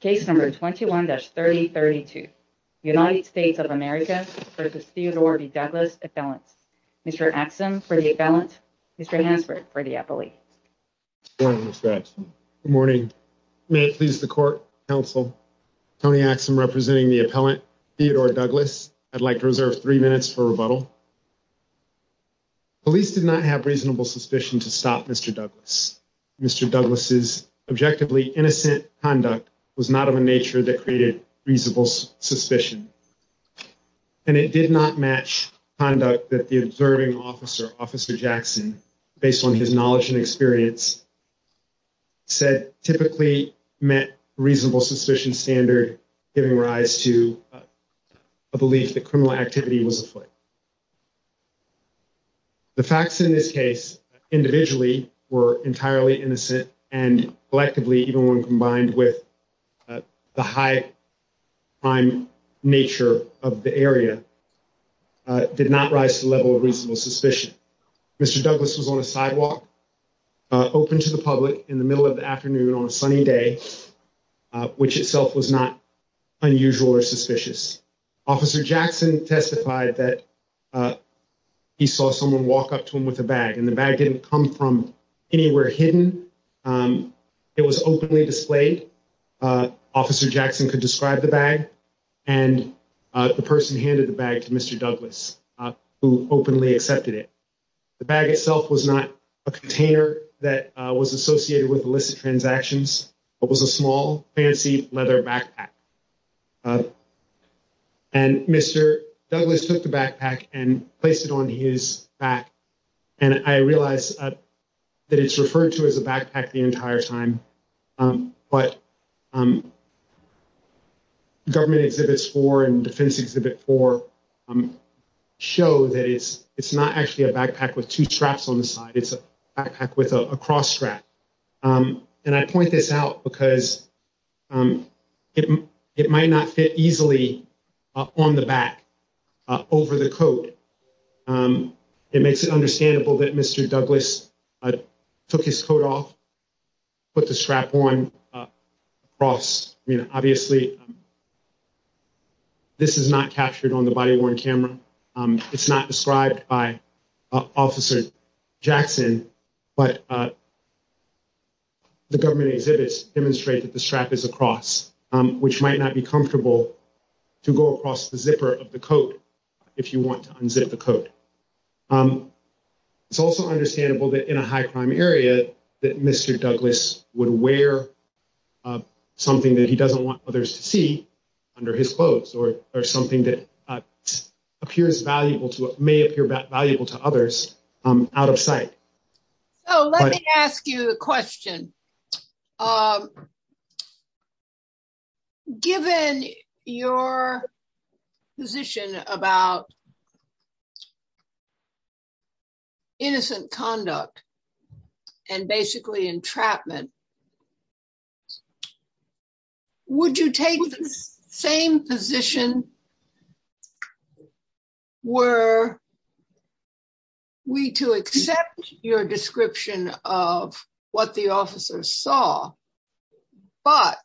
case number 21-3032. United States of America versus Theodore Douglas appellant. Mr. Axum for the appellant. Mr. Hansford for the appellate. Good morning, Mr. Axum. Good morning. May it please the court, counsel, Tony Axum representing the appellant Theodore Douglas. I'd like to reserve three minutes for rebuttal. Police did not have reasonable suspicion to stop Mr. Douglas. Mr. Douglas's objectively innocent conduct was not of a nature that created reasonable suspicion. And it did not match conduct that the observing officer, Officer Jackson, based on his knowledge and experience, said typically met reasonable suspicion standard, giving rise to a belief that criminal activity was afoot. The facts in this case individually were entirely innocent and collectively, even when combined with the high crime nature of the area, did not rise to the level of reasonable suspicion. Mr. Douglas was on a sidewalk open to the public in the middle of the afternoon on a sunny day, which itself was not unusual or suspicious. Officer Jackson testified that he saw someone walk up to him with a bag and the bag didn't come from anywhere hidden. It was openly displayed. Officer Jackson could describe the bag and the person handed the bag to Mr. Douglas, who openly accepted it. The bag itself was not a container that was associated with illicit transactions. It was a small, fancy leather backpack. And Mr. Douglas took the backpack and placed it on his back. And I realize that it's referred to as a backpack the entire time. But government exhibits for and defense exhibit for show that it's it's not actually a backpack with two straps on the side. It's a backpack with a cross strap. And I point this out because it it might not fit easily on the back over the coat. It makes it understandable that Mr. Douglas took his coat off. But the strap on Ross, I mean, obviously. This is not captured on the body worn camera. It's not described by Officer Jackson, but the government exhibits demonstrate that the strap is across, which might not be comfortable to go across the zipper of the coat if you want to unzip the coat. It's also understandable that in a high crime area that Mr. Douglas would wear something that he doesn't want others to see under his clothes or or something that appears valuable to may appear valuable to others out of sight. Oh, let me ask you a question. Given your position about innocent conduct and basically entrapment. Would you take the same position? Were we to accept your description of what the officer saw, but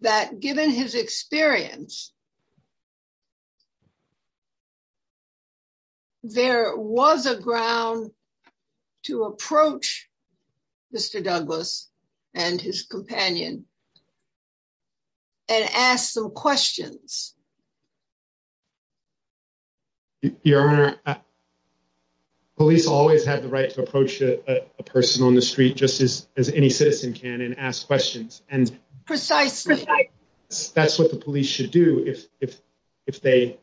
that given his experience, there was a ground to approach. Mr. Douglas and his companion. And ask some questions. Your Honor. Police always have the right to approach a person on the street just as as any citizen can and ask questions. Precisely. That's what the police should do if if if they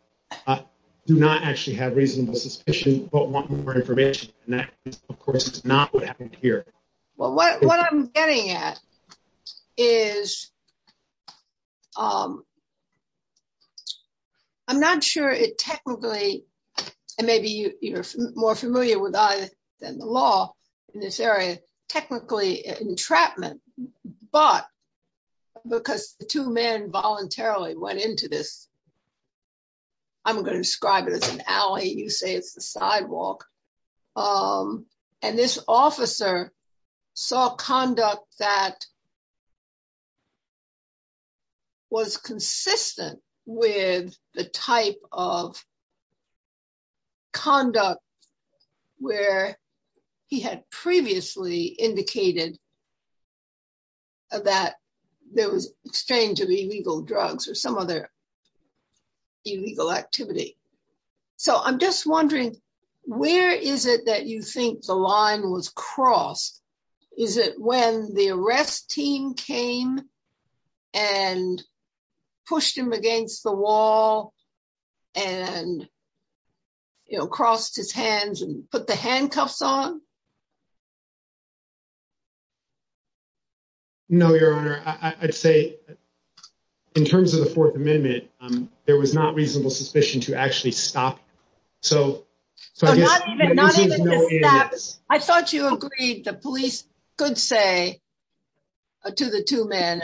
do not actually have reasonable suspicion, but want more information. And that, of course, is not what happened here. Well, what I'm getting at is. I'm not sure it technically, and maybe you're more familiar with that than the law in this area, technically entrapment, but because the two men voluntarily went into this. I'm going to describe it as an alley you say it's the sidewalk. And this officer saw conduct that was consistent with the type of conduct where he had previously indicated that there was exchange of illegal drugs or some other illegal activity. So I'm just wondering, where is it that you think the line was crossed. Is it when the arrest team came and pushed him against the wall, and, you know, crossed his hands and put the handcuffs on. No, Your Honor, I'd say, in terms of the 4th amendment, there was not reasonable suspicion to actually stop. So, so I guess I thought you agreed the police could say to the 2 men.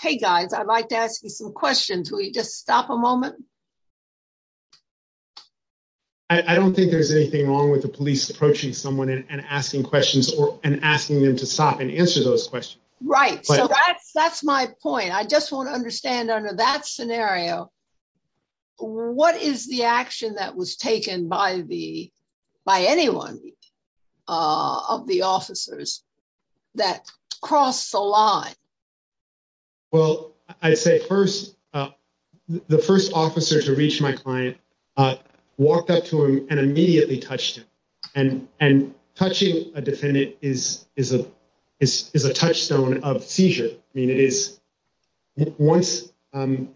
Hey, guys, I'd like to ask you some questions. We just stop a moment. I don't think there's anything wrong with the police approaching someone and asking questions and asking them to stop and answer those questions. Right. So that's, that's my point. I just want to understand under that scenario. What is the action that was taken by the by anyone of the officers that cross the line. Well, I'd say first, the first officer to reach my client walked up to him and immediately touched him and and touching a defendant is is a is is a touchstone of seizure. I mean, it is once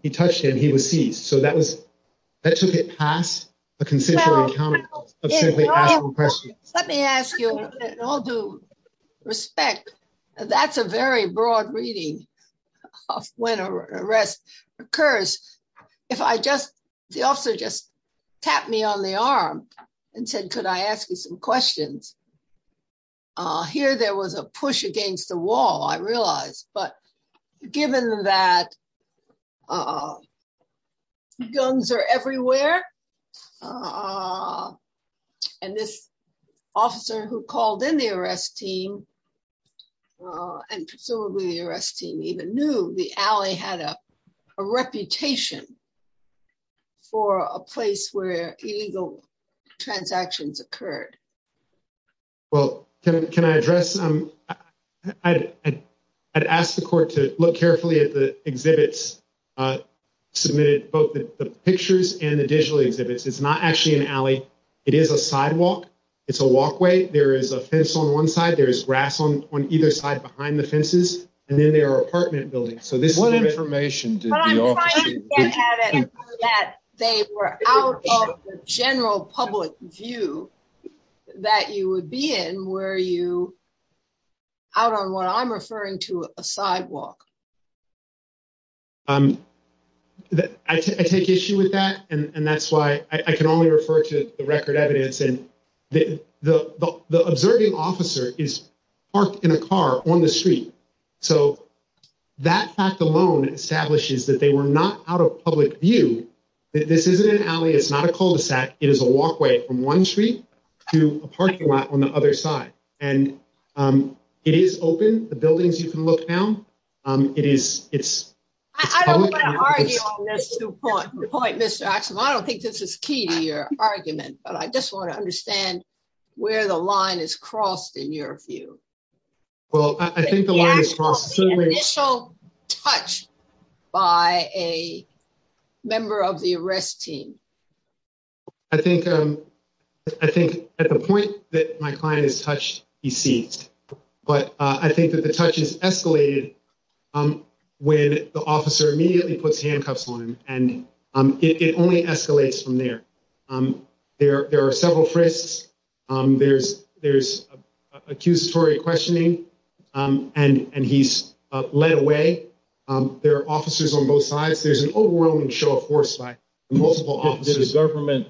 he touched him, he was seized. So that was, that took it past a consensual encounter of simply asking questions. Let me ask you, in all due respect, that's a very broad reading of when an arrest occurs. If I just the officer just tapped me on the arm and said could I ask you some questions. Here there was a push against the wall I realized but given that guns are everywhere. And this officer who called in the arrest team, and presumably the arrest team even knew the alley had a reputation for a place where illegal transactions occurred. Well, can I address I'd ask the court to look carefully at the exhibits submitted both the pictures and the digital exhibits. It's not actually an alley. It is a sidewalk. It's a walkway. There is a fence on one side. There is grass on on either side behind the fences, and then there are apartment buildings. So this is what information that they were out of general public view that you would be in where you out on what I'm referring to a sidewalk. I take issue with that, and that's why I can only refer to the record evidence and the observing officer is parked in a car on the street. So, that fact alone establishes that they were not out of public view. This isn't an alley. It's not a cul-de-sac. It is a walkway from one street to a parking lot on the other side. And it is open the buildings you can look down. It is. It's. I don't want to argue on this point. Mr. Axel, I don't think this is key to your argument, but I just want to understand where the line is crossed in your view. Well, I think the initial touch by a member of the arrest team. I think I think at the point that my client is touched, he sees. But I think that the touch is escalated when the officer immediately puts handcuffs on and it only escalates from there. There are several frisks. There's there's accusatory questioning and he's led away. There are officers on both sides. There's an overwhelming show of force by multiple officers. The government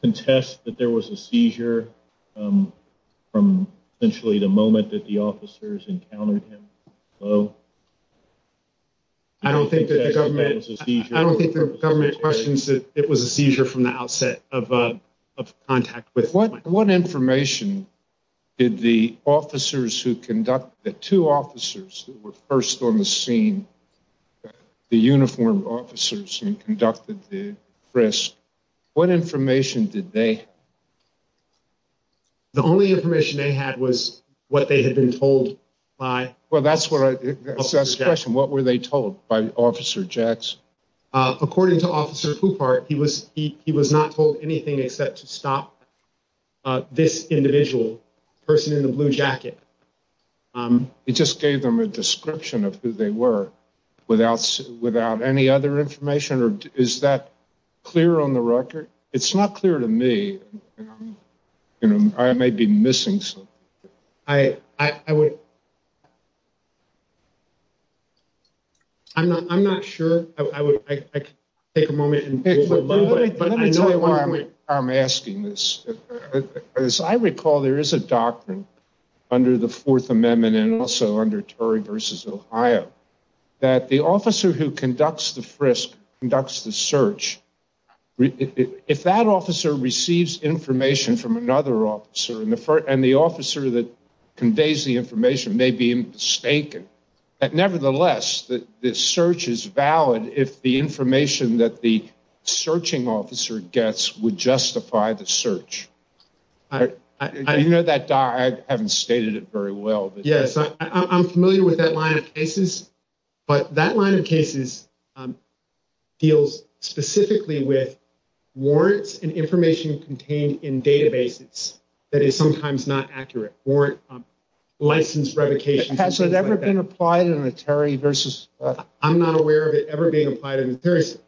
contests that there was a seizure from essentially the moment that the officers encountered him. Oh, I don't think that the government was a seizure. I don't think the government questions that it was a seizure from the outset of contact with. What what information did the officers who conduct the two officers who were first on the scene, the uniformed officers who conducted the frisk? What information did they. The only information they had was what they had been told by. Well, that's what I said. What were they told by Officer Jackson? According to Officer Coupart, he was he he was not told anything except to stop this individual person in the blue jacket. He just gave them a description of who they were without without any other information. Or is that clear on the record? It's not clear to me. You know, I may be missing some. I I would. I'm not I'm not sure I would take a moment. But I know why I'm asking this. As I recall, there is a doctrine under the Fourth Amendment and also under Tory versus Ohio that the officer who conducts the frisk conducts the search. If that officer receives information from another officer and the first and the officer that conveys the information may be mistaken. Nevertheless, the search is valid if the information that the searching officer gets would justify the search. I know that I haven't stated it very well. Yes, I'm familiar with that line of cases. But that line of cases deals specifically with warrants and information contained in databases. That is sometimes not accurate. Warrant license revocation has never been applied in a Terry versus. I'm not aware of it ever being applied. And there is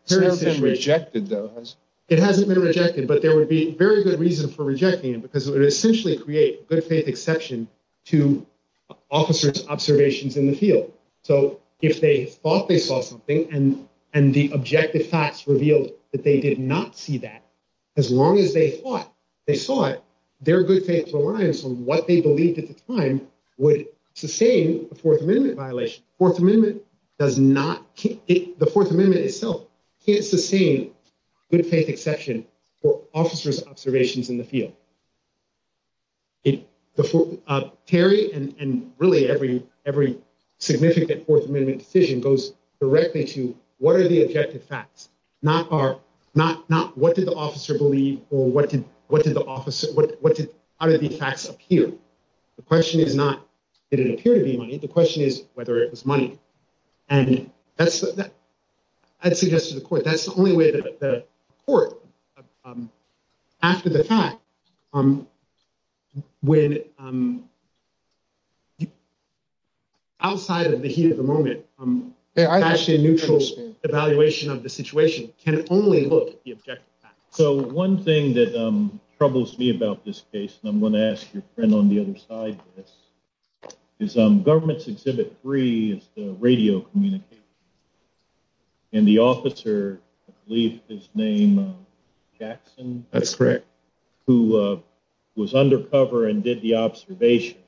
rejected those. It hasn't been rejected, but there would be very good reason for rejecting it because it essentially create good faith exception to officers observations in the field. So if they thought they saw something and and the objective facts revealed that they did not see that as long as they thought they saw it, their good faith reliance on what they believed at the time would sustain a Fourth Amendment violation. Fourth Amendment does not keep the Fourth Amendment itself. It's the same good faith exception for officers observations in the field. If Terry and really every every significant Fourth Amendment decision goes directly to what are the objective facts, not are not not. What did the officer believe or what did what did the officer what what did the facts appear? The question is not did it appear to be money? The question is whether it was money. And that's that I'd suggest to the court. That's the only way that the court after the fact when. Outside of the heat of the moment, I'm actually a neutral evaluation of the situation can only look at the objective facts. So one thing that troubles me about this case, and I'm going to ask your friend on the other side is some government's exhibit. Three is the radio communication. And the officer, I believe his name, Jackson. That's correct. Who was undercover and did the observation.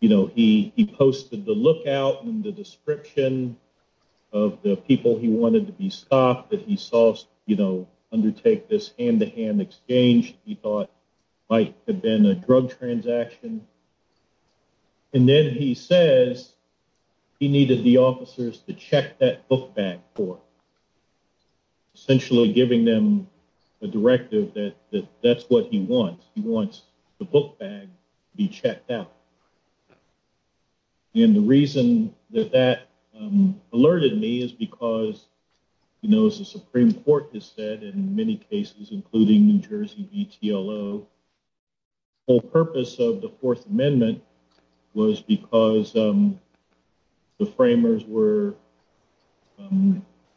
You know, he he posted the lookout and the description of the people he wanted to be stopped that he saw, you know, undertake this hand to hand exchange. He thought might have been a drug transaction. And then he says he needed the officers to check that book bag for. Essentially giving them a directive that that's what he wants. He wants the book bag be checked out. And the reason that that alerted me is because, you know, as the Supreme Court has said in many cases, including New Jersey, The purpose of the Fourth Amendment was because the framers were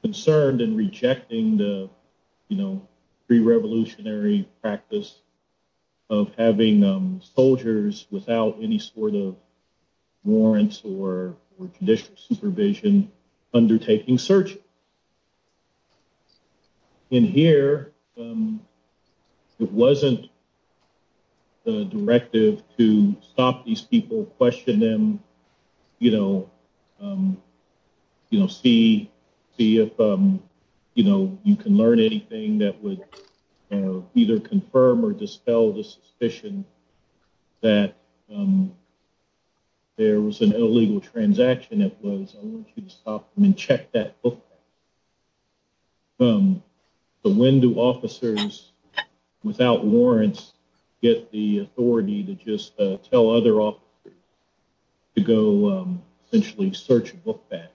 concerned and rejecting the pre-revolutionary practice of having soldiers without any sort of warrants or judicial supervision undertaking search. In here, it wasn't the directive to stop these people, question them, you know, you know, see, see if, you know, you can learn anything that would either confirm or dispel the suspicion that there was an illegal transaction. I mean, check that book. But when do officers without warrants get the authority to just tell other officers to go essentially search book bag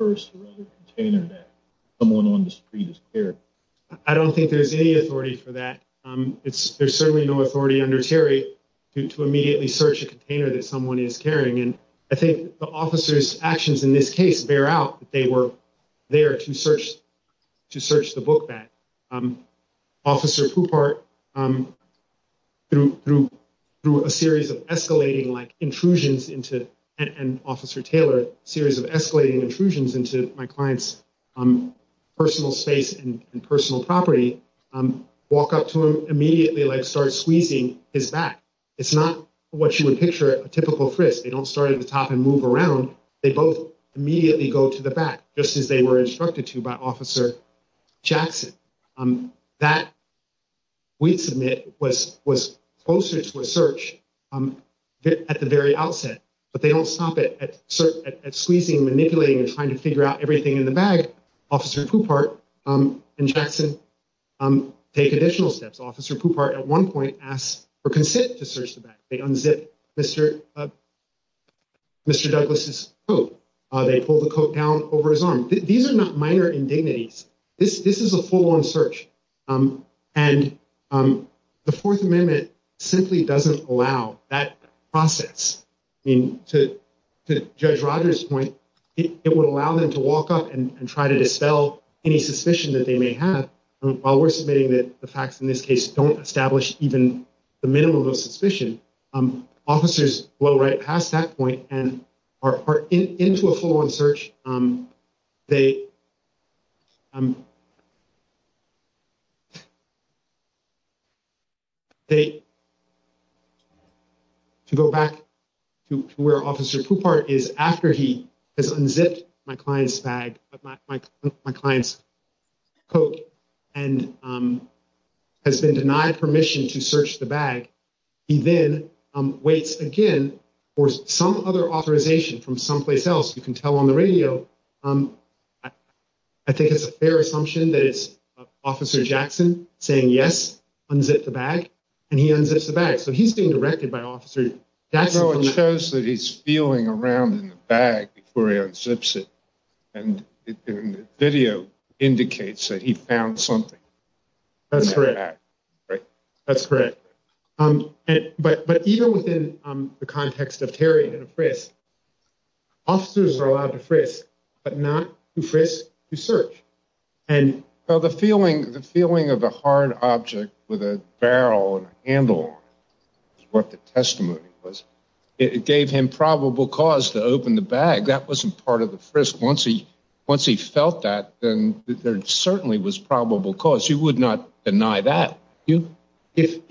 first container that someone on the street is here. I don't think there's any authority for that. There's certainly no authority under Terry to immediately search a container that someone is carrying. And I think the officer's actions in this case bear out that they were there to search, to search the book bag. Officer Poupart, through a series of escalating intrusions into, and Officer Taylor, a series of escalating intrusions into my client's personal space and personal property, walk up to him immediately like start squeezing his back. It's not what you would picture a typical frisk. They don't start at the top and move around. They both immediately go to the back, just as they were instructed to by Officer Jackson. That, we'd submit, was closer to a search at the very outset. But they don't stop at squeezing, manipulating, and trying to figure out everything in the bag. Officer Poupart and Jackson take additional steps. Officer Poupart at one point asks for consent to search the bag. They unzip Mr. Douglas' coat. They pull the coat down over his arm. These are not minor indignities. This is a full-on search. And the Fourth Amendment simply doesn't allow that process. I mean, to Judge Rogers' point, it would allow them to walk up and try to dispel any suspicion that they may have. While we're submitting that the facts in this case don't establish even the minimum of suspicion, officers go right past that point and are into a full-on search. To go back to where Officer Poupart is, after he has unzipped my client's coat and has been denied permission to search the bag, he then waits again for some other authorization from someplace else. You can tell on the radio. I think it's a fair assumption that it's Officer Jackson saying, yes, unzip the bag. And he unzips the bag. So he's being directed by Officer Jackson. I know it shows that he's feeling around in the bag before he unzips it. And the video indicates that he found something. That's correct. But even within the context of tearing and a frisk, officers are allowed to frisk, but not to frisk to search. The feeling of a hard object with a barrel and a handle is what the testimony was. It gave him probable cause to open the bag. That wasn't part of the frisk. Once he felt that, then there certainly was probable cause. Of course, he would not deny that. If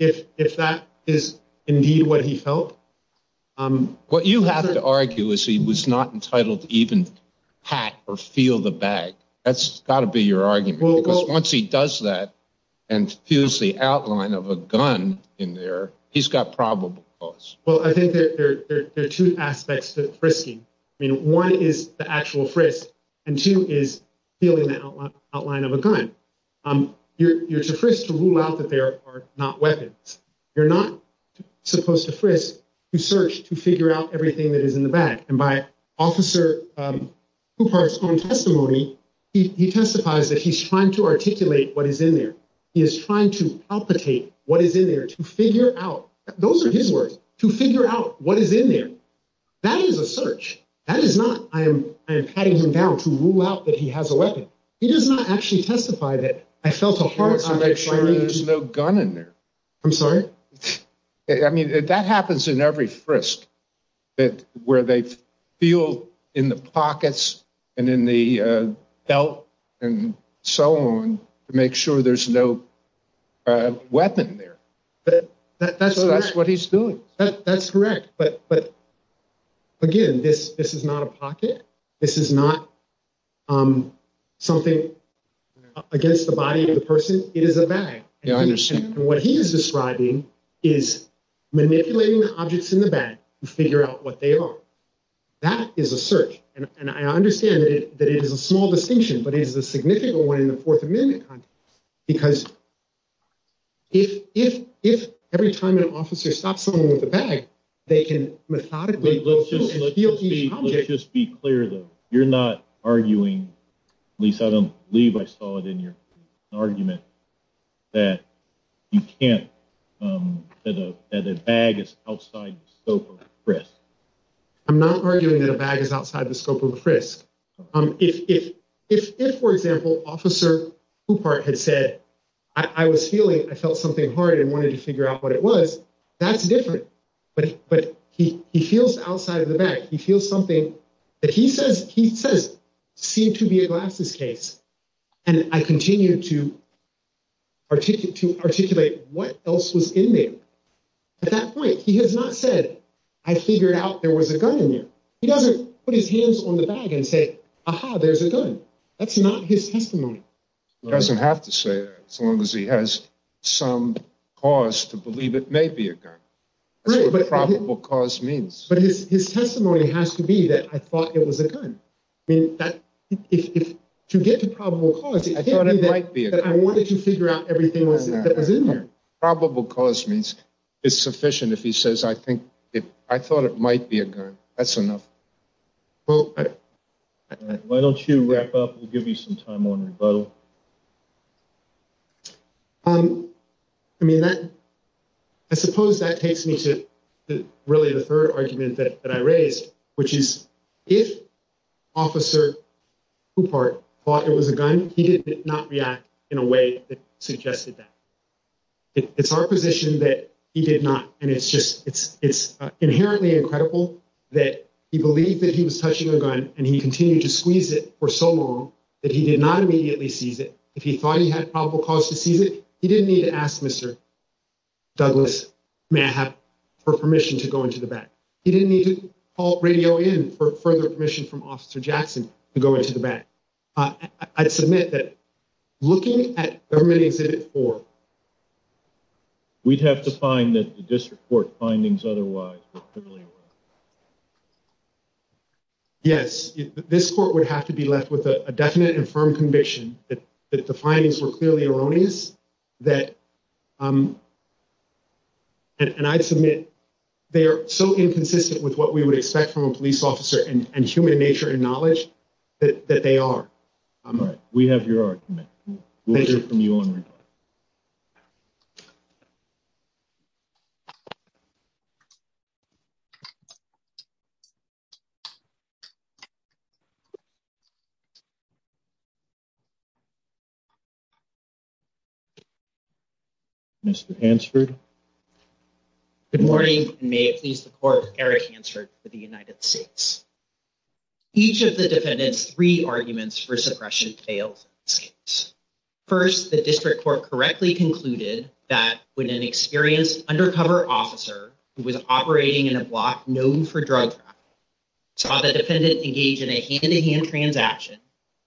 that is indeed what he felt. What you have to argue is he was not entitled to even pat or feel the bag. That's got to be your argument. Once he does that and feels the outline of a gun in there, he's got probable cause. Well, I think there are two aspects to frisking. One is the actual frisk, and two is feeling the outline of a gun. You're to frisk to rule out that there are not weapons. You're not supposed to frisk to search to figure out everything that is in the bag. And by Officer Kupar's own testimony, he testifies that he's trying to articulate what is in there. He is trying to palpitate what is in there to figure out. Those are his words, to figure out what is in there. That is a search. That is not I am patting him down to rule out that he has a weapon. He does not actually testify that I felt a harm. To make sure there's no gun in there. I'm sorry? I mean, that happens in every frisk. Where they feel in the pockets and in the belt and so on. To make sure there's no weapon there. That's what he's doing. That's correct. But again, this is not a pocket. This is not something against the body of the person. It is a bag. And what he is describing is manipulating the objects in the bag to figure out what they are. That is a search. And I understand that it is a small distinction, but it is a significant one in the Fourth Amendment context. Because if every time an officer stops someone with a bag, they can methodically steal each object. To be clear though, you're not arguing, at least I don't believe I saw it in your argument, that you can't, that a bag is outside the scope of a frisk. I'm not arguing that a bag is outside the scope of a frisk. If, for example, Officer Coupart had said, I was feeling, I felt something hard and wanted to figure out what it was, that's different. But he feels outside of the bag. He feels something that he says seemed to be a glasses case. And I continue to articulate what else was in there. At that point, he has not said, I figured out there was a gun in there. He doesn't put his hands on the bag and say, aha, there's a gun. That's not his testimony. He doesn't have to say that as long as he has some cause to believe it may be a gun. That's what probable cause means. But his testimony has to be that I thought it was a gun. I mean, to get to probable cause, it can't be that I wanted to figure out everything that was in there. Probable cause means it's sufficient if he says, I thought it might be a gun. That's enough. Why don't you wrap up? We'll give you some time on rebuttal. I mean, I suppose that takes me to really the third argument that I raised, which is if Officer Coupart thought it was a gun, he did not react in a way that suggested that. It's our position that he did not. And it's just it's inherently incredible that he believed that he was touching a gun and he continued to squeeze it for so long that he did not immediately seize it. If he thought he had probable cause to seize it, he didn't need to ask Mr. Douglas, may I have permission to go into the back? He didn't need to call radio in for further permission from Officer Jackson to go into the back. I'd submit that looking at Government Exhibit 4. We'd have to find the district court findings otherwise. Yes, this court would have to be left with a definite and firm conviction that the findings were clearly erroneous that. And I'd submit they are so inconsistent with what we would expect from a police officer and human nature and knowledge that they are. We have your argument. We'll hear from you on rebuttal. Mr. Hansford. Good morning. May it please the court. Eric Hansford for the United States. Each of the defendants, three arguments for suppression fails. First, the district court correctly concluded that when an experienced undercover officer who was operating in the United States, being in a block known for drug traffic, saw the defendant engage in a hand-to-hand transaction,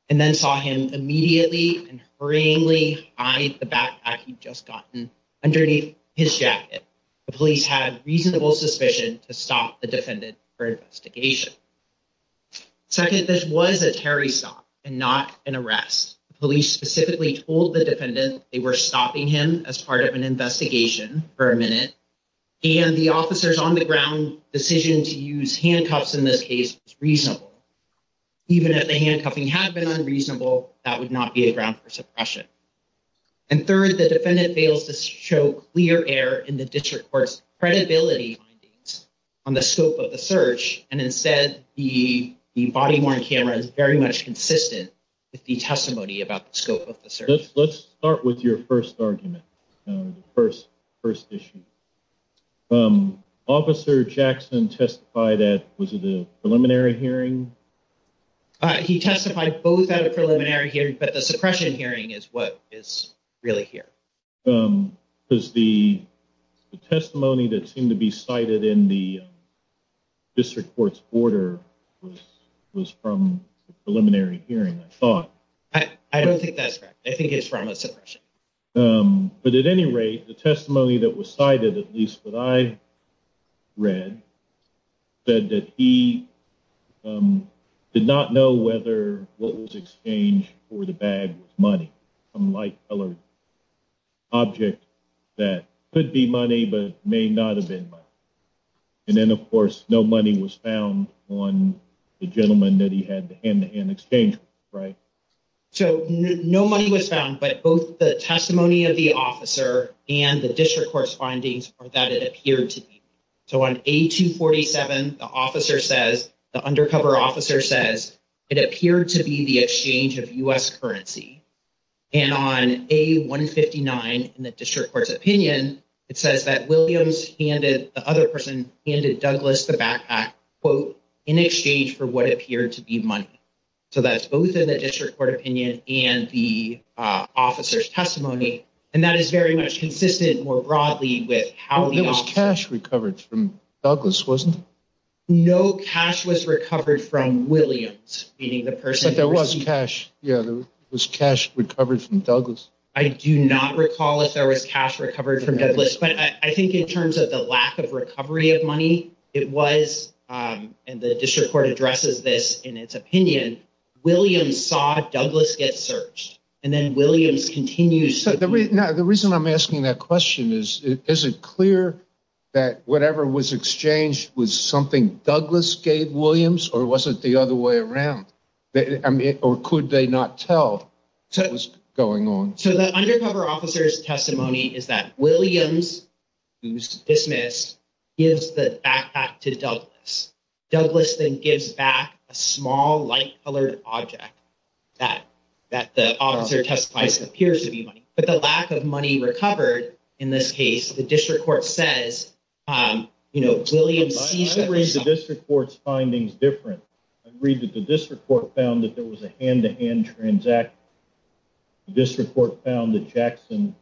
and then saw him immediately and hurriedly hide the backpack he'd just gotten underneath his jacket, the police had reasonable suspicion to stop the defendant for investigation. Second, this was a terrorist stop and not an arrest. Police specifically told the defendant they were stopping him as part of an investigation for a minute. And the officer's on-the-ground decision to use handcuffs in this case was reasonable. Even if the handcuffing had been unreasonable, that would not be a ground for suppression. And third, the defendant fails to show clear error in the district court's credibility on the scope of the search. And instead, the body-worn camera is very much consistent with the testimony about the scope of the search. Let's start with your first argument. First issue. Officer Jackson testified at, was it a preliminary hearing? He testified both at a preliminary hearing, but the suppression hearing is what is really here. Because the testimony that seemed to be cited in the district court's order was from a preliminary hearing, I thought. I don't think that's correct. I think it's from a suppression. But at any rate, the testimony that was cited, at least what I read, said that he did not know whether what was exchanged for the bag was money. A light-colored object that could be money but may not have been money. And then, of course, no money was found on the gentleman that he had the hand-to-hand exchange with, right? So no money was found, but both the testimony of the officer and the district court's findings are that it appeared to be. So on A247, the officer says, the undercover officer says, it appeared to be the exchange of U.S. currency. And on A159, in the district court's opinion, it says that Williams handed, the other person handed Douglas the backpack, quote, in exchange for what appeared to be money. So that's both in the district court opinion and the officer's testimony. And that is very much consistent, more broadly, with how the officer. There was cash recovered from Douglas, wasn't there? No cash was recovered from Williams, meaning the person. But there was cash, yeah, there was cash recovered from Douglas. But I think in terms of the lack of recovery of money, it was, and the district court addresses this in its opinion, Williams saw Douglas get searched. And then Williams continues. The reason I'm asking that question is, is it clear that whatever was exchanged was something Douglas gave Williams or was it the other way around? Or could they not tell what was going on? So the undercover officer's testimony is that Williams, who's dismissed, gives the backpack to Douglas. Douglas then gives back a small, light-colored object that the officer testifies appears to be money. But the lack of money recovered in this case, the district court says, you know, Williams sees. I read the district court's findings different. I read that the district court found that there was a hand-to-hand transaction. The district court found that Jackson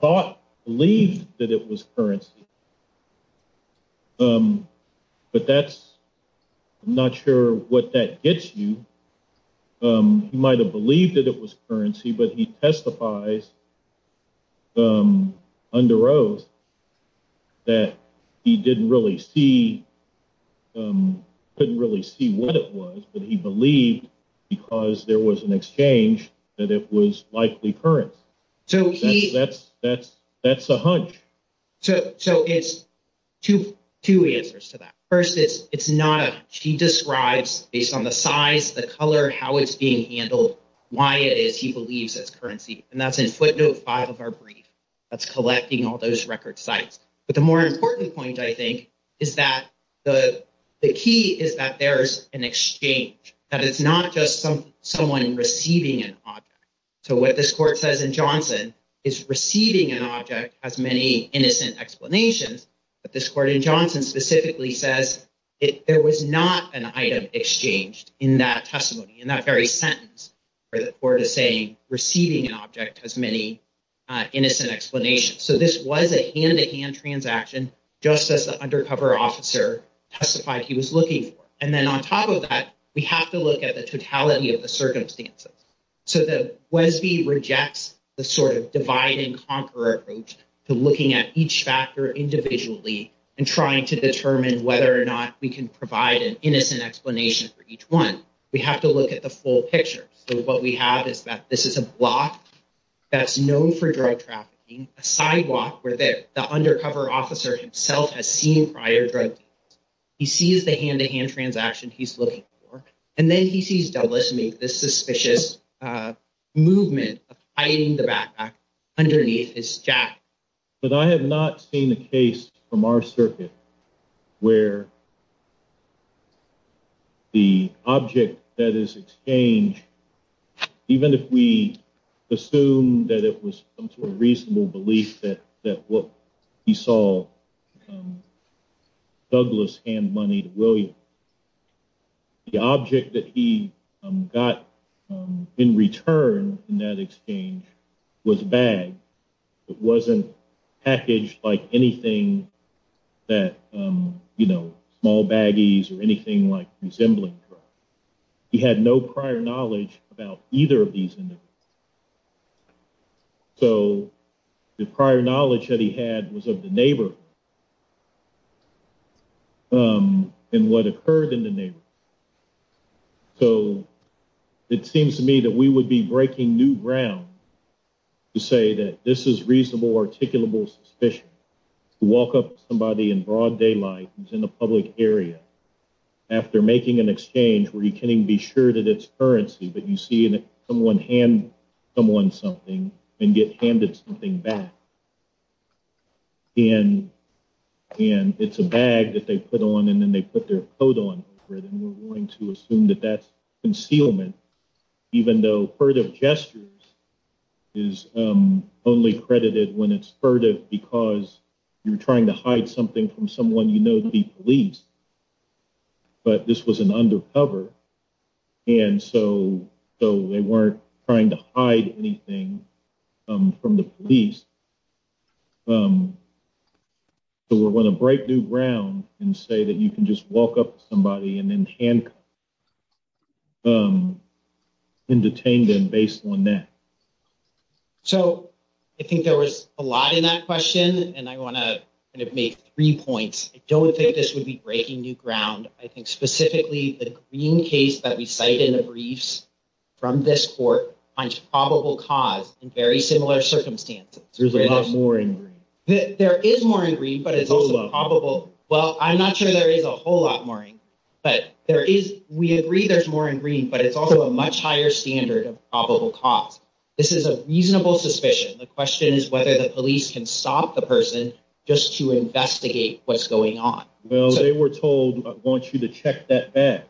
thought, believed that it was currency. But that's, I'm not sure what that gets you. He might have believed that it was currency, but he testifies under oath that he didn't really see, couldn't really see what it was. But he believed, because there was an exchange, that it was likely currency. That's a hunch. So it's two answers to that. First, it's not a hunch. He describes, based on the size, the color, how it's being handled, why it is he believes it's currency. And that's in footnote five of our brief. That's collecting all those record sites. But the more important point, I think, is that the key is that there's an exchange, that it's not just someone receiving an object. So what this court says in Johnson is receiving an object has many innocent explanations. But this court in Johnson specifically says there was not an item exchanged in that testimony, in that very sentence. The court is saying receiving an object has many innocent explanations. So this was a hand-to-hand transaction, just as the undercover officer testified he was looking for. And then on top of that, we have to look at the totality of the circumstances. So the Wesby rejects the sort of divide and conquer approach to looking at each factor individually and trying to determine whether or not we can provide an innocent explanation for each one. We have to look at the full picture. So what we have is that this is a block that's known for drug trafficking, a sidewalk where the undercover officer himself has seen prior drug deals. He sees the hand-to-hand transaction he's looking for. And then he sees Douglas make this suspicious movement of hiding the backpack underneath his jacket. But I have not seen a case from our circuit where the object that is exchanged, even if we assume that it was a reasonable belief that what he saw Douglas hand money to William, the object that he got in return in that exchange was a bag. It wasn't packaged like anything that, you know, small baggies or anything like resembling drugs. He had no prior knowledge about either of these individuals. So the prior knowledge that he had was of the neighborhood and what occurred in the neighborhood. So it seems to me that we would be breaking new ground to say that this is reasonable, articulable suspicion. To walk up to somebody in broad daylight who's in a public area after making an exchange where you can't even be sure that it's currency, but you see someone hand someone something and get handed something back. And it's a bag that they put on and then they put their coat on over it and we're going to assume that that's concealment. Even though furtive gestures is only credited when it's furtive because you're trying to hide something from someone you know to be police. But this was an undercover and so they weren't trying to hide anything from the police. So we're going to break new ground and say that you can just walk up to somebody and then handcuff them and detain them based on that. So I think there was a lot in that question and I want to kind of make three points. I don't think this would be breaking new ground. I think specifically the green case that we cite in the briefs from this court finds probable cause in very similar circumstances. There's a lot more in green. There is more in green, but it's also probable. Well, I'm not sure there is a whole lot more in green, but we agree there's more in green, but it's also a much higher standard of probable cause. This is a reasonable suspicion. The question is whether the police can stop the person just to investigate what's going on. Well, they were told I want you to check that back.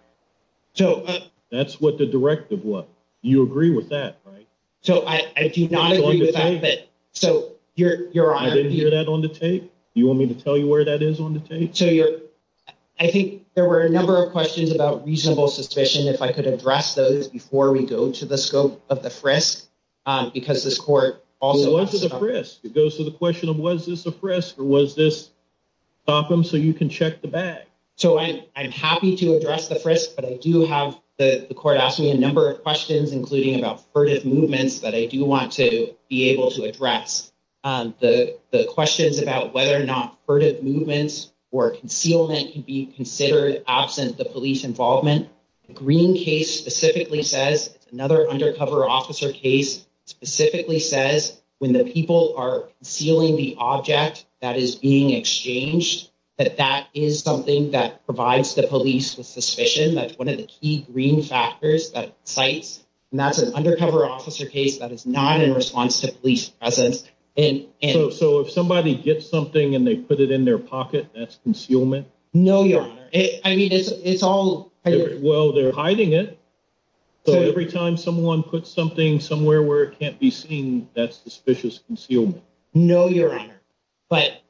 So that's what the directive was. You agree with that, right? So I do not agree with that. So your honor. I didn't hear that on the tape. You want me to tell you where that is on the tape? I think there were a number of questions about reasonable suspicion. If I could address those before we go to the scope of the frisk, because this court. It goes to the frisk. It goes to the question of was this a frisk or was this stop them so you can check the bag? So I'm happy to address the frisk, but I do have the court asked me a number of questions, including about furtive movements that I do want to be able to address the questions about whether or not furtive movements or concealment can be considered absent the police involvement. Green case specifically says another undercover officer case specifically says when the people are sealing the object that is being exchanged, that that is something that provides the police with suspicion. That's one of the key green factors that sites and that's an undercover officer case that is not in response to police presence. And so if somebody gets something and they put it in their pocket, that's concealment. No, your honor. I mean, it's all. Well, they're hiding it. So every time someone puts something somewhere where it can't be seen, that's suspicious. No, your honor. But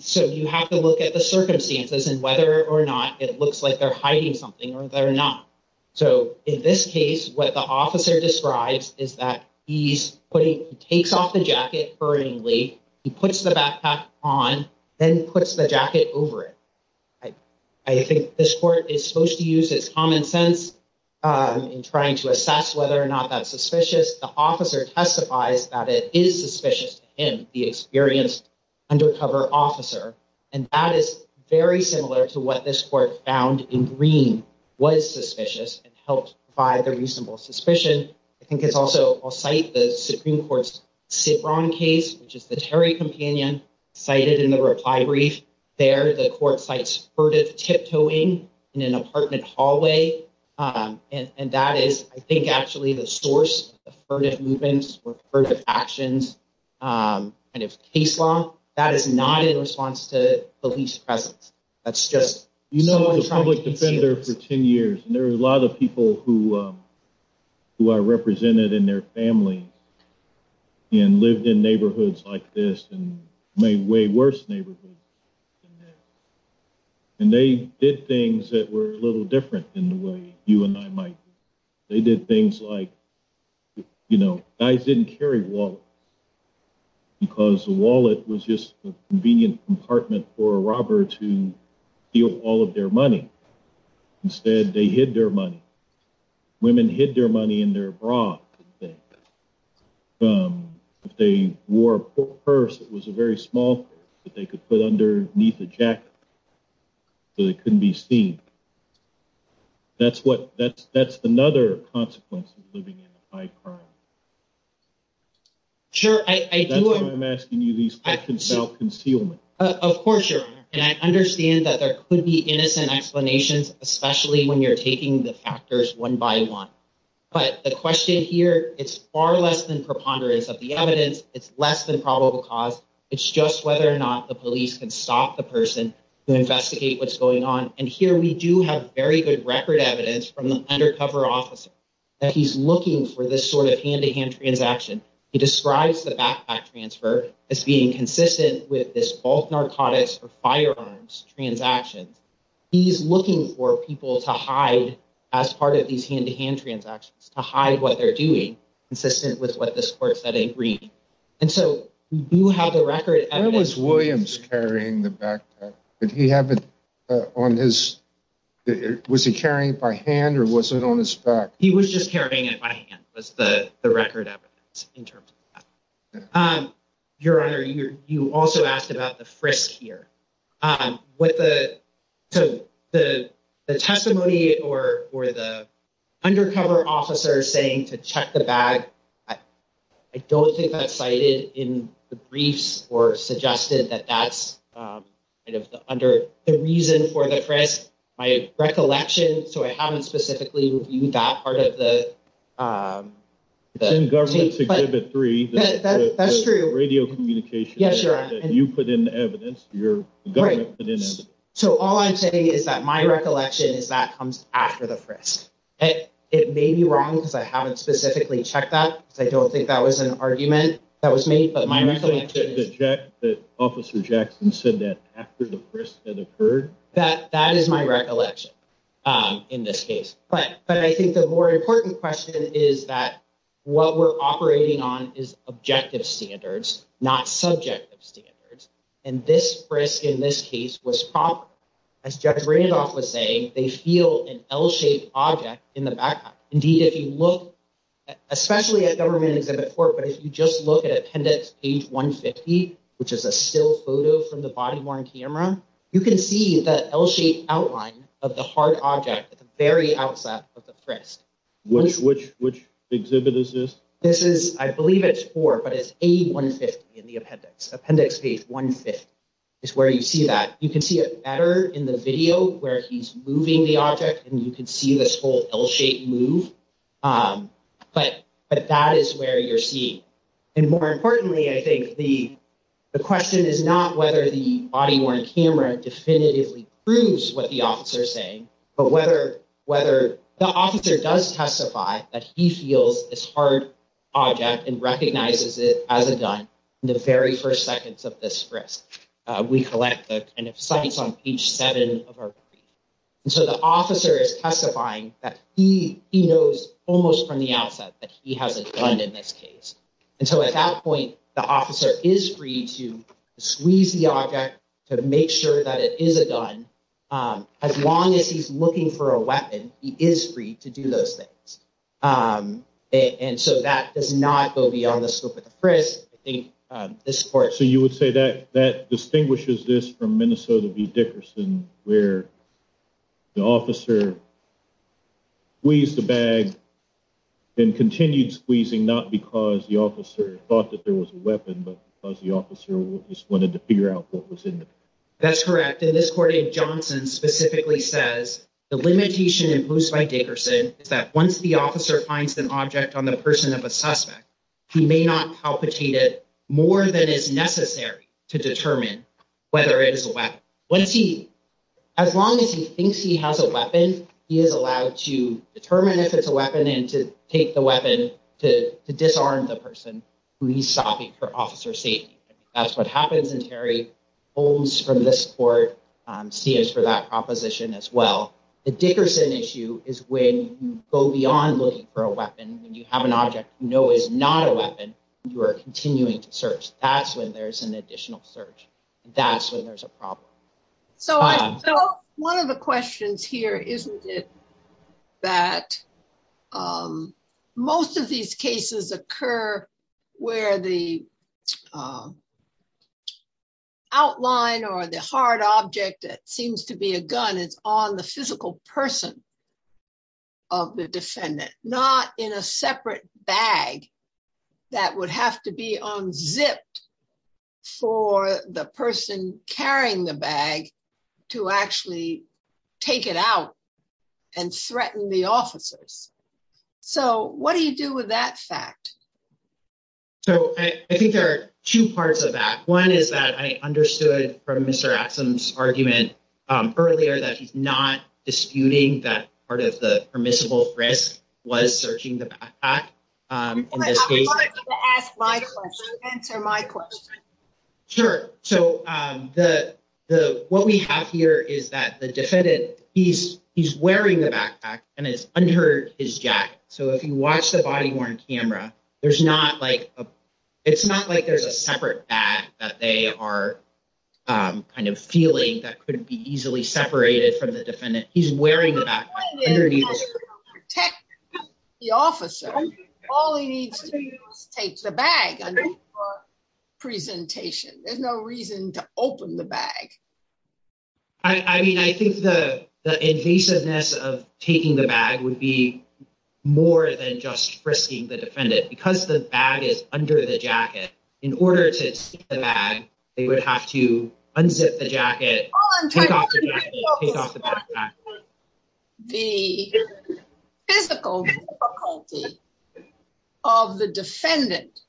so you have to look at the circumstances and whether or not it looks like they're hiding something or they're not. So in this case, what the officer describes is that he's putting takes off the jacket burningly. He puts the backpack on, then puts the jacket over it. I think this court is supposed to use its common sense in trying to assess whether or not that's suspicious. The officer testifies that it is suspicious in the experience undercover officer. And that is very similar to what this court found in green was suspicious and helped by the reasonable suspicion. I think it's also a site. The Supreme Court's Sitron case, which is the Terry companion cited in the reply brief there. The court sites for tip toeing in an apartment hallway. And that is, I think, actually the source of furtive movements or furtive actions. And if case law that is not in response to police presence, that's just, you know, the public defender for 10 years. And there are a lot of people who who are represented in their families. And lived in neighborhoods like this and made way worse neighborhood. And they did things that were a little different in the way you and I might. They did things like, you know, guys didn't carry wall. Because the wallet was just a convenient compartment for a robber to feel all of their money. Instead, they hid their money. Women hid their money in their bra. If they wore a purse, it was a very small that they could put underneath the jacket. So they couldn't be seen. That's what that's that's another consequence of living in high crime. Sure, I do. I'm asking you these questions about concealment. Of course, your honor. And I understand that there could be innocent explanations, especially when you're taking the factors one by one. But the question here, it's far less than preponderance of the evidence. It's less than probable cause. It's just whether or not the police can stop the person to investigate what's going on. And here we do have very good record evidence from the undercover officer that he's looking for this sort of hand to hand transaction. He describes the backpack transfer as being consistent with this all narcotics or firearms transactions. He's looking for people to hide as part of these hand to hand transactions to hide what they're doing, consistent with what this court said. And so you have the record. I was Williams carrying the back. He have it on his. Was he carrying it by hand or was it on his back? He was just carrying it by hand. Was the record in terms of your honor. You also asked about the frisk here. With the testimony or or the undercover officer saying to check the bag. I don't think that's cited in the briefs or suggested that that's kind of under the reason for the press. My recollection. So I haven't specifically reviewed that part of the. The government's exhibit three. That's true. Radio communication. Yes, you're right. You put in evidence. You're right. So all I'm saying is that my recollection is that comes after the press. It may be wrong because I haven't specifically checked that. I don't think that was an argument that was made, but my recollection is that the officer Jackson said that after the press that occurred. That that is my recollection in this case. But but I think the more important question is that what we're operating on is objective standards, not subjective standards. And this risk in this case was proper. As Jeff Randolph was saying, they feel an L shaped object in the back. Indeed, if you look, especially at government exhibit four, but if you just look at appendix page one fifty, which is a still photo from the body worn camera. You can see the L shaped outline of the heart object at the very outset of the press. Which which which exhibit is this? This is I believe it's four, but it's a one fifty in the appendix. Appendix one fifty is where you see that. You can see it better in the video where he's moving the object and you can see this whole L shaped move. But but that is where you're seeing. And more importantly, I think the the question is not whether the body worn camera definitively proves what the officer is saying. But whether whether the officer does testify that he feels this hard object and recognizes it as a gun. The very first seconds of this risk, we collect that. And so the officer is testifying that he he knows almost from the outset that he has a gun in this case. And so at that point, the officer is free to squeeze the object to make sure that it is a gun. As long as he's looking for a weapon, he is free to do those things. And so that does not go beyond the scope of the press. I think this court. So you would say that that distinguishes this from Minnesota v. Dickerson, where the officer. We use the bag and continued squeezing, not because the officer thought that there was a weapon, but because the officer just wanted to figure out what was in it. That's correct. And this court in Johnson specifically says the limitation imposed by Dickerson is that once the officer finds an object on the person of a suspect, he may not palpitate it more than is necessary to determine whether it is a weapon. Once he as long as he thinks he has a weapon, he is allowed to determine if it's a weapon and to take the weapon, to disarm the person who he's stopping for officer safety. That's what happens in Terry Holmes from this court seems for that proposition as well. The Dickerson issue is when you go beyond looking for a weapon. And you have an object, you know, is not a weapon. You are continuing to search. That's when there's an additional search. That's when there's a problem. So one of the questions here, isn't it that most of these cases occur where the outline or the hard object that seems to be a gun is on the physical person of the defendant, not in a separate bag that would have to be unzipped for the person carrying the bag to actually take it out and threaten the officers. So what do you do with that fact? So I think there are two parts of that. One is that I understood from Mr. Axsom's argument earlier that he's not disputing that part of the permissible risk was searching the back. Ask my question. Answer my question. Sure. So the the what we have here is that the defendant, he's he's wearing the backpack and it's under his jacket. So if you watch the body worn camera, there's not like it's not like there's a separate bag that they are kind of feeling that couldn't be easily separated from the defendant. He's wearing the officer. All he needs to take the bag presentation. There's no reason to open the bag. I mean, I think the invasiveness of taking the bag would be more than just risking the defendant because the bag is under the jacket. In order to bag, they would have to unzip the jacket. The physical of the defendant,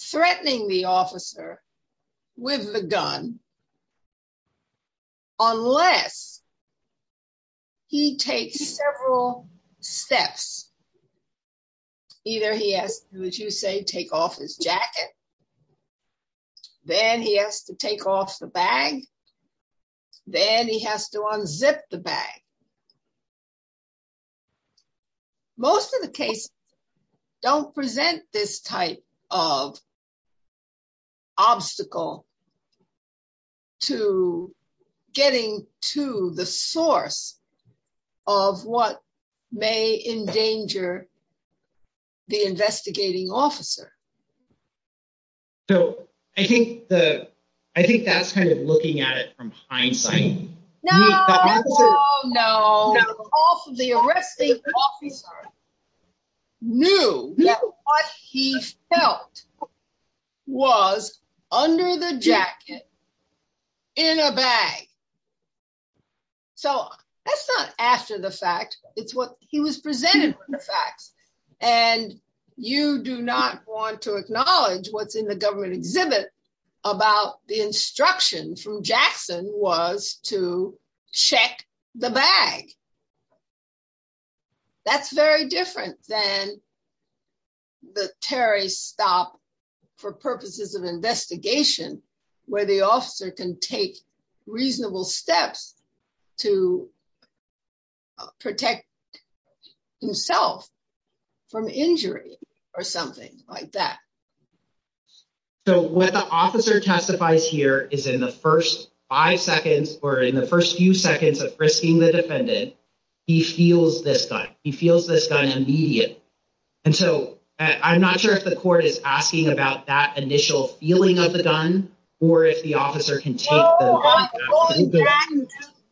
threatening the officer with the gun. Unless he takes several steps. Either he asked, would you say take off his jacket. Then he has to take off the bag. Then he has to unzip the bag. Most of the case, don't present this type of obstacle to getting to the source of what may endanger the investigating officer. So, I think the, I think that's kind of looking at it from hindsight. No, no. The arresting officer knew what he felt was under the jacket in a bag. So, that's not after the fact, it's what he was presented with the facts, and you do not want to acknowledge what's in the government exhibit about the instruction from Jackson was to check the bag. That's very different than the Terry stop for purposes of investigation, where the officer can take reasonable steps to protect himself from injury or something like that. So, what the officer testifies here is in the 1st, 5 seconds, or in the 1st, few seconds of risking the defendant. He feels this guy, he feels this guy immediate. And so I'm not sure if the court is asking about that initial feeling of the gun, or if the officer can take.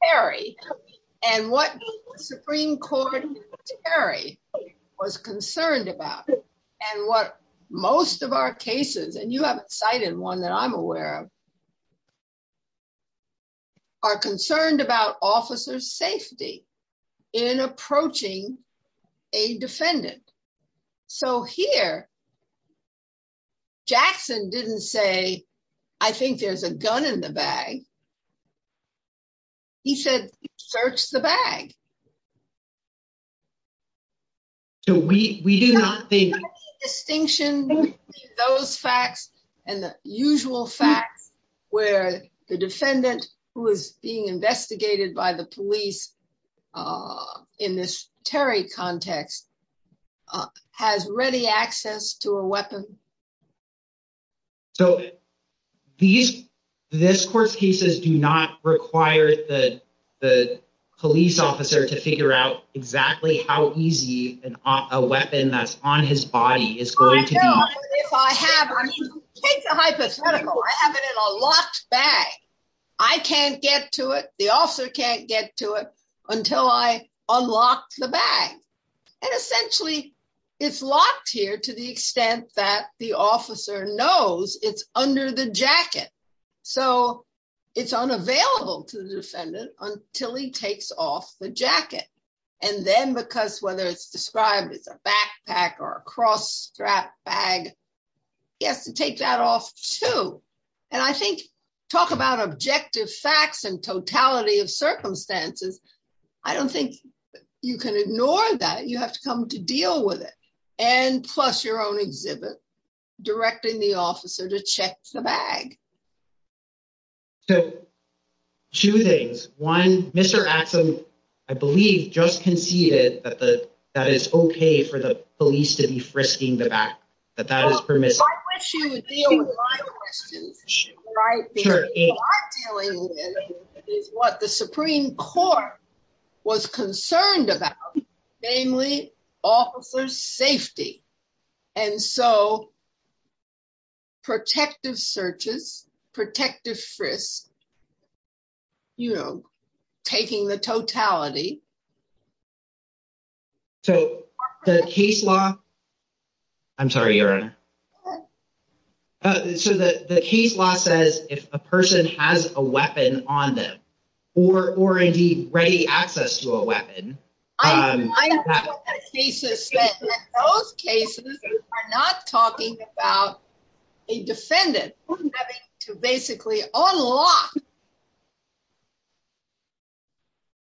Very, and what Supreme Court was concerned about, and what most of our cases and you haven't cited one that I'm aware of are concerned about officers safety in approaching a defendant. So here, Jackson didn't say, I think there's a gun in the bag. He said, search the bag. So, we do not think distinction, those facts, and the usual facts, where the defendant who is being investigated by the police. In this Terry context has ready access to a weapon. So, these, this course, he says, do not require the, the police officer to figure out exactly how easy and a weapon that's on his body is going to. I have a hypothetical, I have it in a locked bag. I can't get to it. The officer can't get to it until I unlocked the bag. And essentially, it's locked here to the extent that the officer knows it's under the jacket. So, it's unavailable to the defendant until he takes off the jacket. And then because whether it's described as a backpack or cross strap bag. Yes, take that off to. And I think, talk about objective facts and totality of circumstances. I don't think you can ignore that you have to come to deal with it. And plus your own exhibit, directing the officer to check the bag. So, two things, one, Mr. I believe just conceded that the, that is okay for the police to be frisking the back that that is permissive. I wish you would deal with my questions. What I'm dealing with is what the Supreme Court was concerned about, namely, officer's safety. And so, protective searches, protective frisks, you know, taking the totality. So, the case law. I'm sorry. So, the case law says if a person has a weapon on them, or already ready access to a weapon. Those cases are not talking about a defendant to basically unlock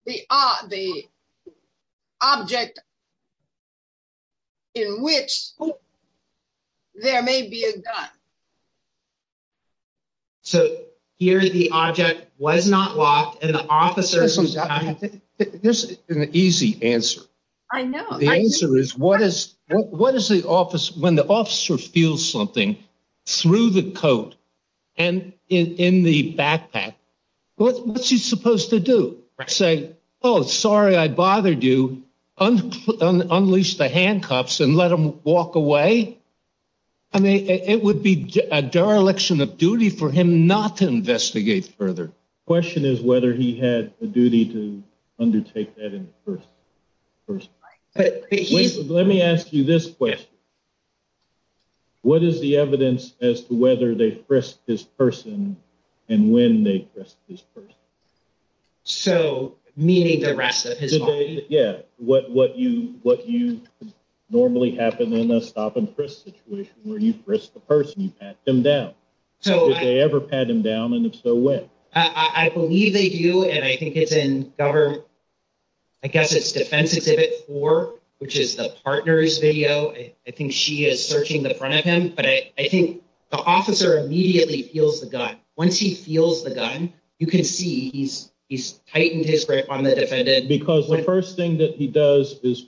the object in which there may be a gun. So, here the object was not locked and the officers. There's an easy answer. I know the answer is what is what is the office when the officer feels something through the coat and in the backpack. What's he supposed to do? I say, oh, sorry, I bothered you. Unleash the handcuffs and let them walk away. I mean, it would be a dereliction of duty for him not to investigate further. Question is whether he had a duty to undertake that in the first place. Let me ask you this question. What is the evidence as to whether they frisked his person and when they frisked his person? So, meaning the rest of his body? Yeah, what you normally happen in a stop and frisk situation where you frisk the person, you pat them down. So, if they ever pat him down, and if so, when? I believe they do, and I think it's in, I guess it's defense exhibit four, which is the partner's video. I think she is searching the front of him, but I think the officer immediately feels the gun. Once he feels the gun, you can see he's tightened his grip on the defendant. Because the first thing that he does is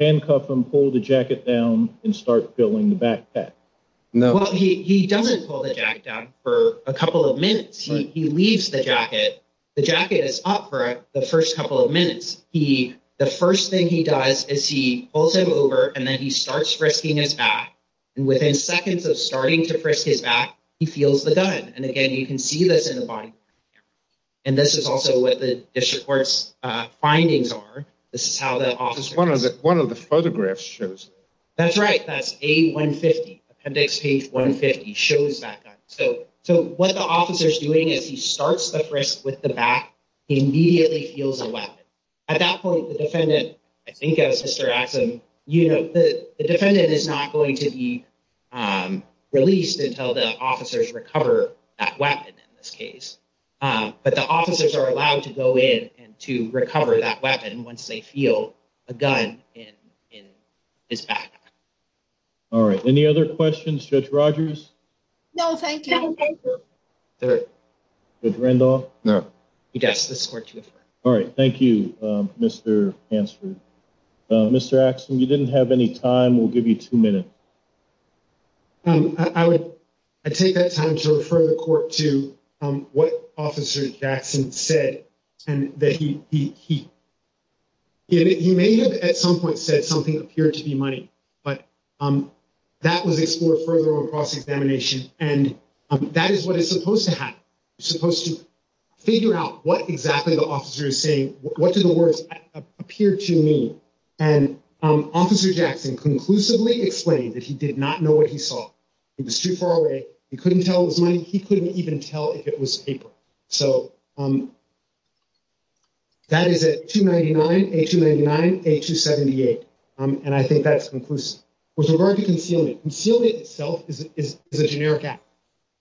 handcuff him, pull the jacket down, and start feeling the backpack. Well, he doesn't pull the jacket down for a couple of minutes. He leaves the jacket. The jacket is up for the first couple of minutes. The first thing he does is he pulls him over, and then he starts frisking his back. And within seconds of starting to frisk his back, he feels the gun. And again, you can see this in the body camera. And this is also what the district court's findings are. This is how the officer— This is one of the photographs shows. That's right. That's A150, appendix page 150, shows that gun. So, what the officer is doing is he starts the frisk with the back. He immediately feels a weapon. At that point, the defendant, I think as Mr. Axum, you know, the defendant is not going to be released until the officers recover that weapon in this case. But the officers are allowed to go in and to recover that weapon once they feel a gun in his back. All right. Any other questions? Judge Rogers? No, thank you. Judge Randolph? No. Yes, this is court to defer. All right. Thank you, Mr. Hansford. Mr. Axum, you didn't have any time. We'll give you two minutes. I would take that time to refer the court to what Officer Jackson said and that he— he may have at some point said something appeared to be money, but that was explored further on cross-examination. And that is what is supposed to happen. You're supposed to figure out what exactly the officer is saying. What do the words appear to mean? And Officer Jackson conclusively explained that he did not know what he saw. He was too far away. He couldn't tell it was money. He couldn't even tell if it was paper. So, that is a 299, a 299, a 278. And I think that's conclusive. With regard to concealing, concealing itself is a generic act.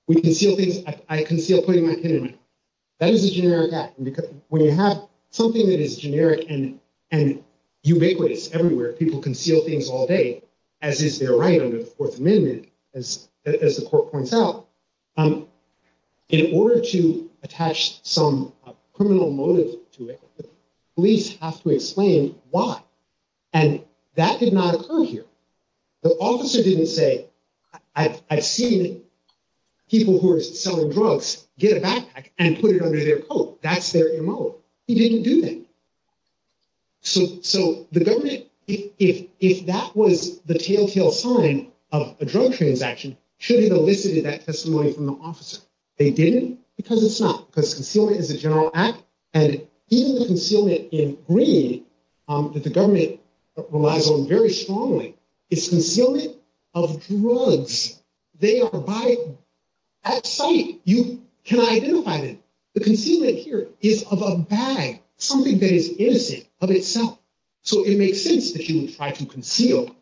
We conceal things—I conceal putting my pen in my pocket. That is a generic act. When you have something that is generic and ubiquitous everywhere, people conceal things all day, as is their right under the Fourth Amendment, as the court points out. In order to attach some criminal motive to it, police have to explain why. And that did not occur here. The officer didn't say, I've seen people who are selling drugs get a backpack and put it under their coat. That's their M.O. He didn't do that. So, the government, if that was the telltale sign of a drug transaction, should have elicited that testimony from the officer. They didn't because it's not, because concealment is a general act. And even the concealment in green that the government relies on very strongly is concealment of drugs. They are by—at sight, you can identify them. The concealment here is of a bag, something that is innocent of itself. So, it makes sense that you would try to conceal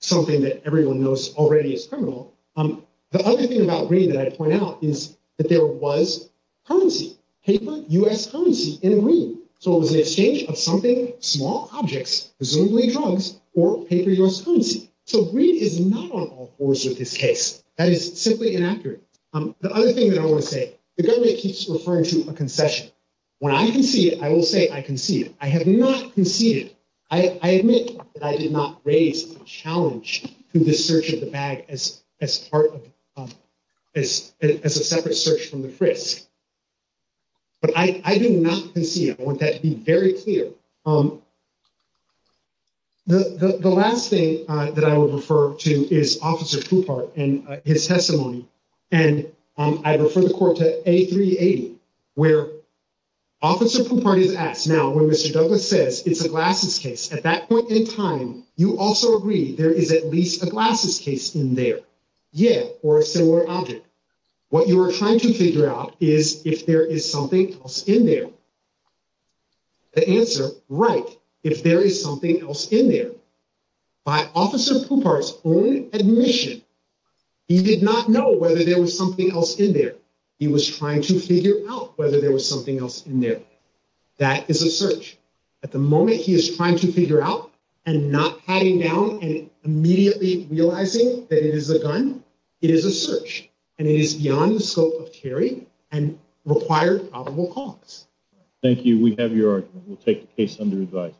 something that everyone knows already is criminal. The other thing about green that I point out is that there was currency, paper U.S. currency in green. So, it was an exchange of something, small objects, presumably drugs, or paper U.S. currency. So, green is not on all fours with this case. That is simply inaccurate. The other thing that I want to say, the government keeps referring to a concession. When I concede, I will say I concede. I have not conceded. I admit that I did not raise a challenge to the search of the bag as part of—as a separate search from the frisk. But I did not concede. I want that to be very clear. The last thing that I would refer to is Officer Poupart and his testimony. And I refer the court to A380 where Officer Poupart is asked. Now, when Mr. Douglas says it's a glasses case, at that point in time, you also agree there is at least a glasses case in there. Yeah, or a similar object. What you are trying to figure out is if there is something else in there. The answer, right, if there is something else in there. By Officer Poupart's own admission, he did not know whether there was something else in there. He was trying to figure out whether there was something else in there. That is a search. At the moment, he is trying to figure out and not patting down and immediately realizing that it is a gun. It is a search. And it is beyond the scope of theory and required probable cause. Thank you. We have your argument. We'll take the case under advice.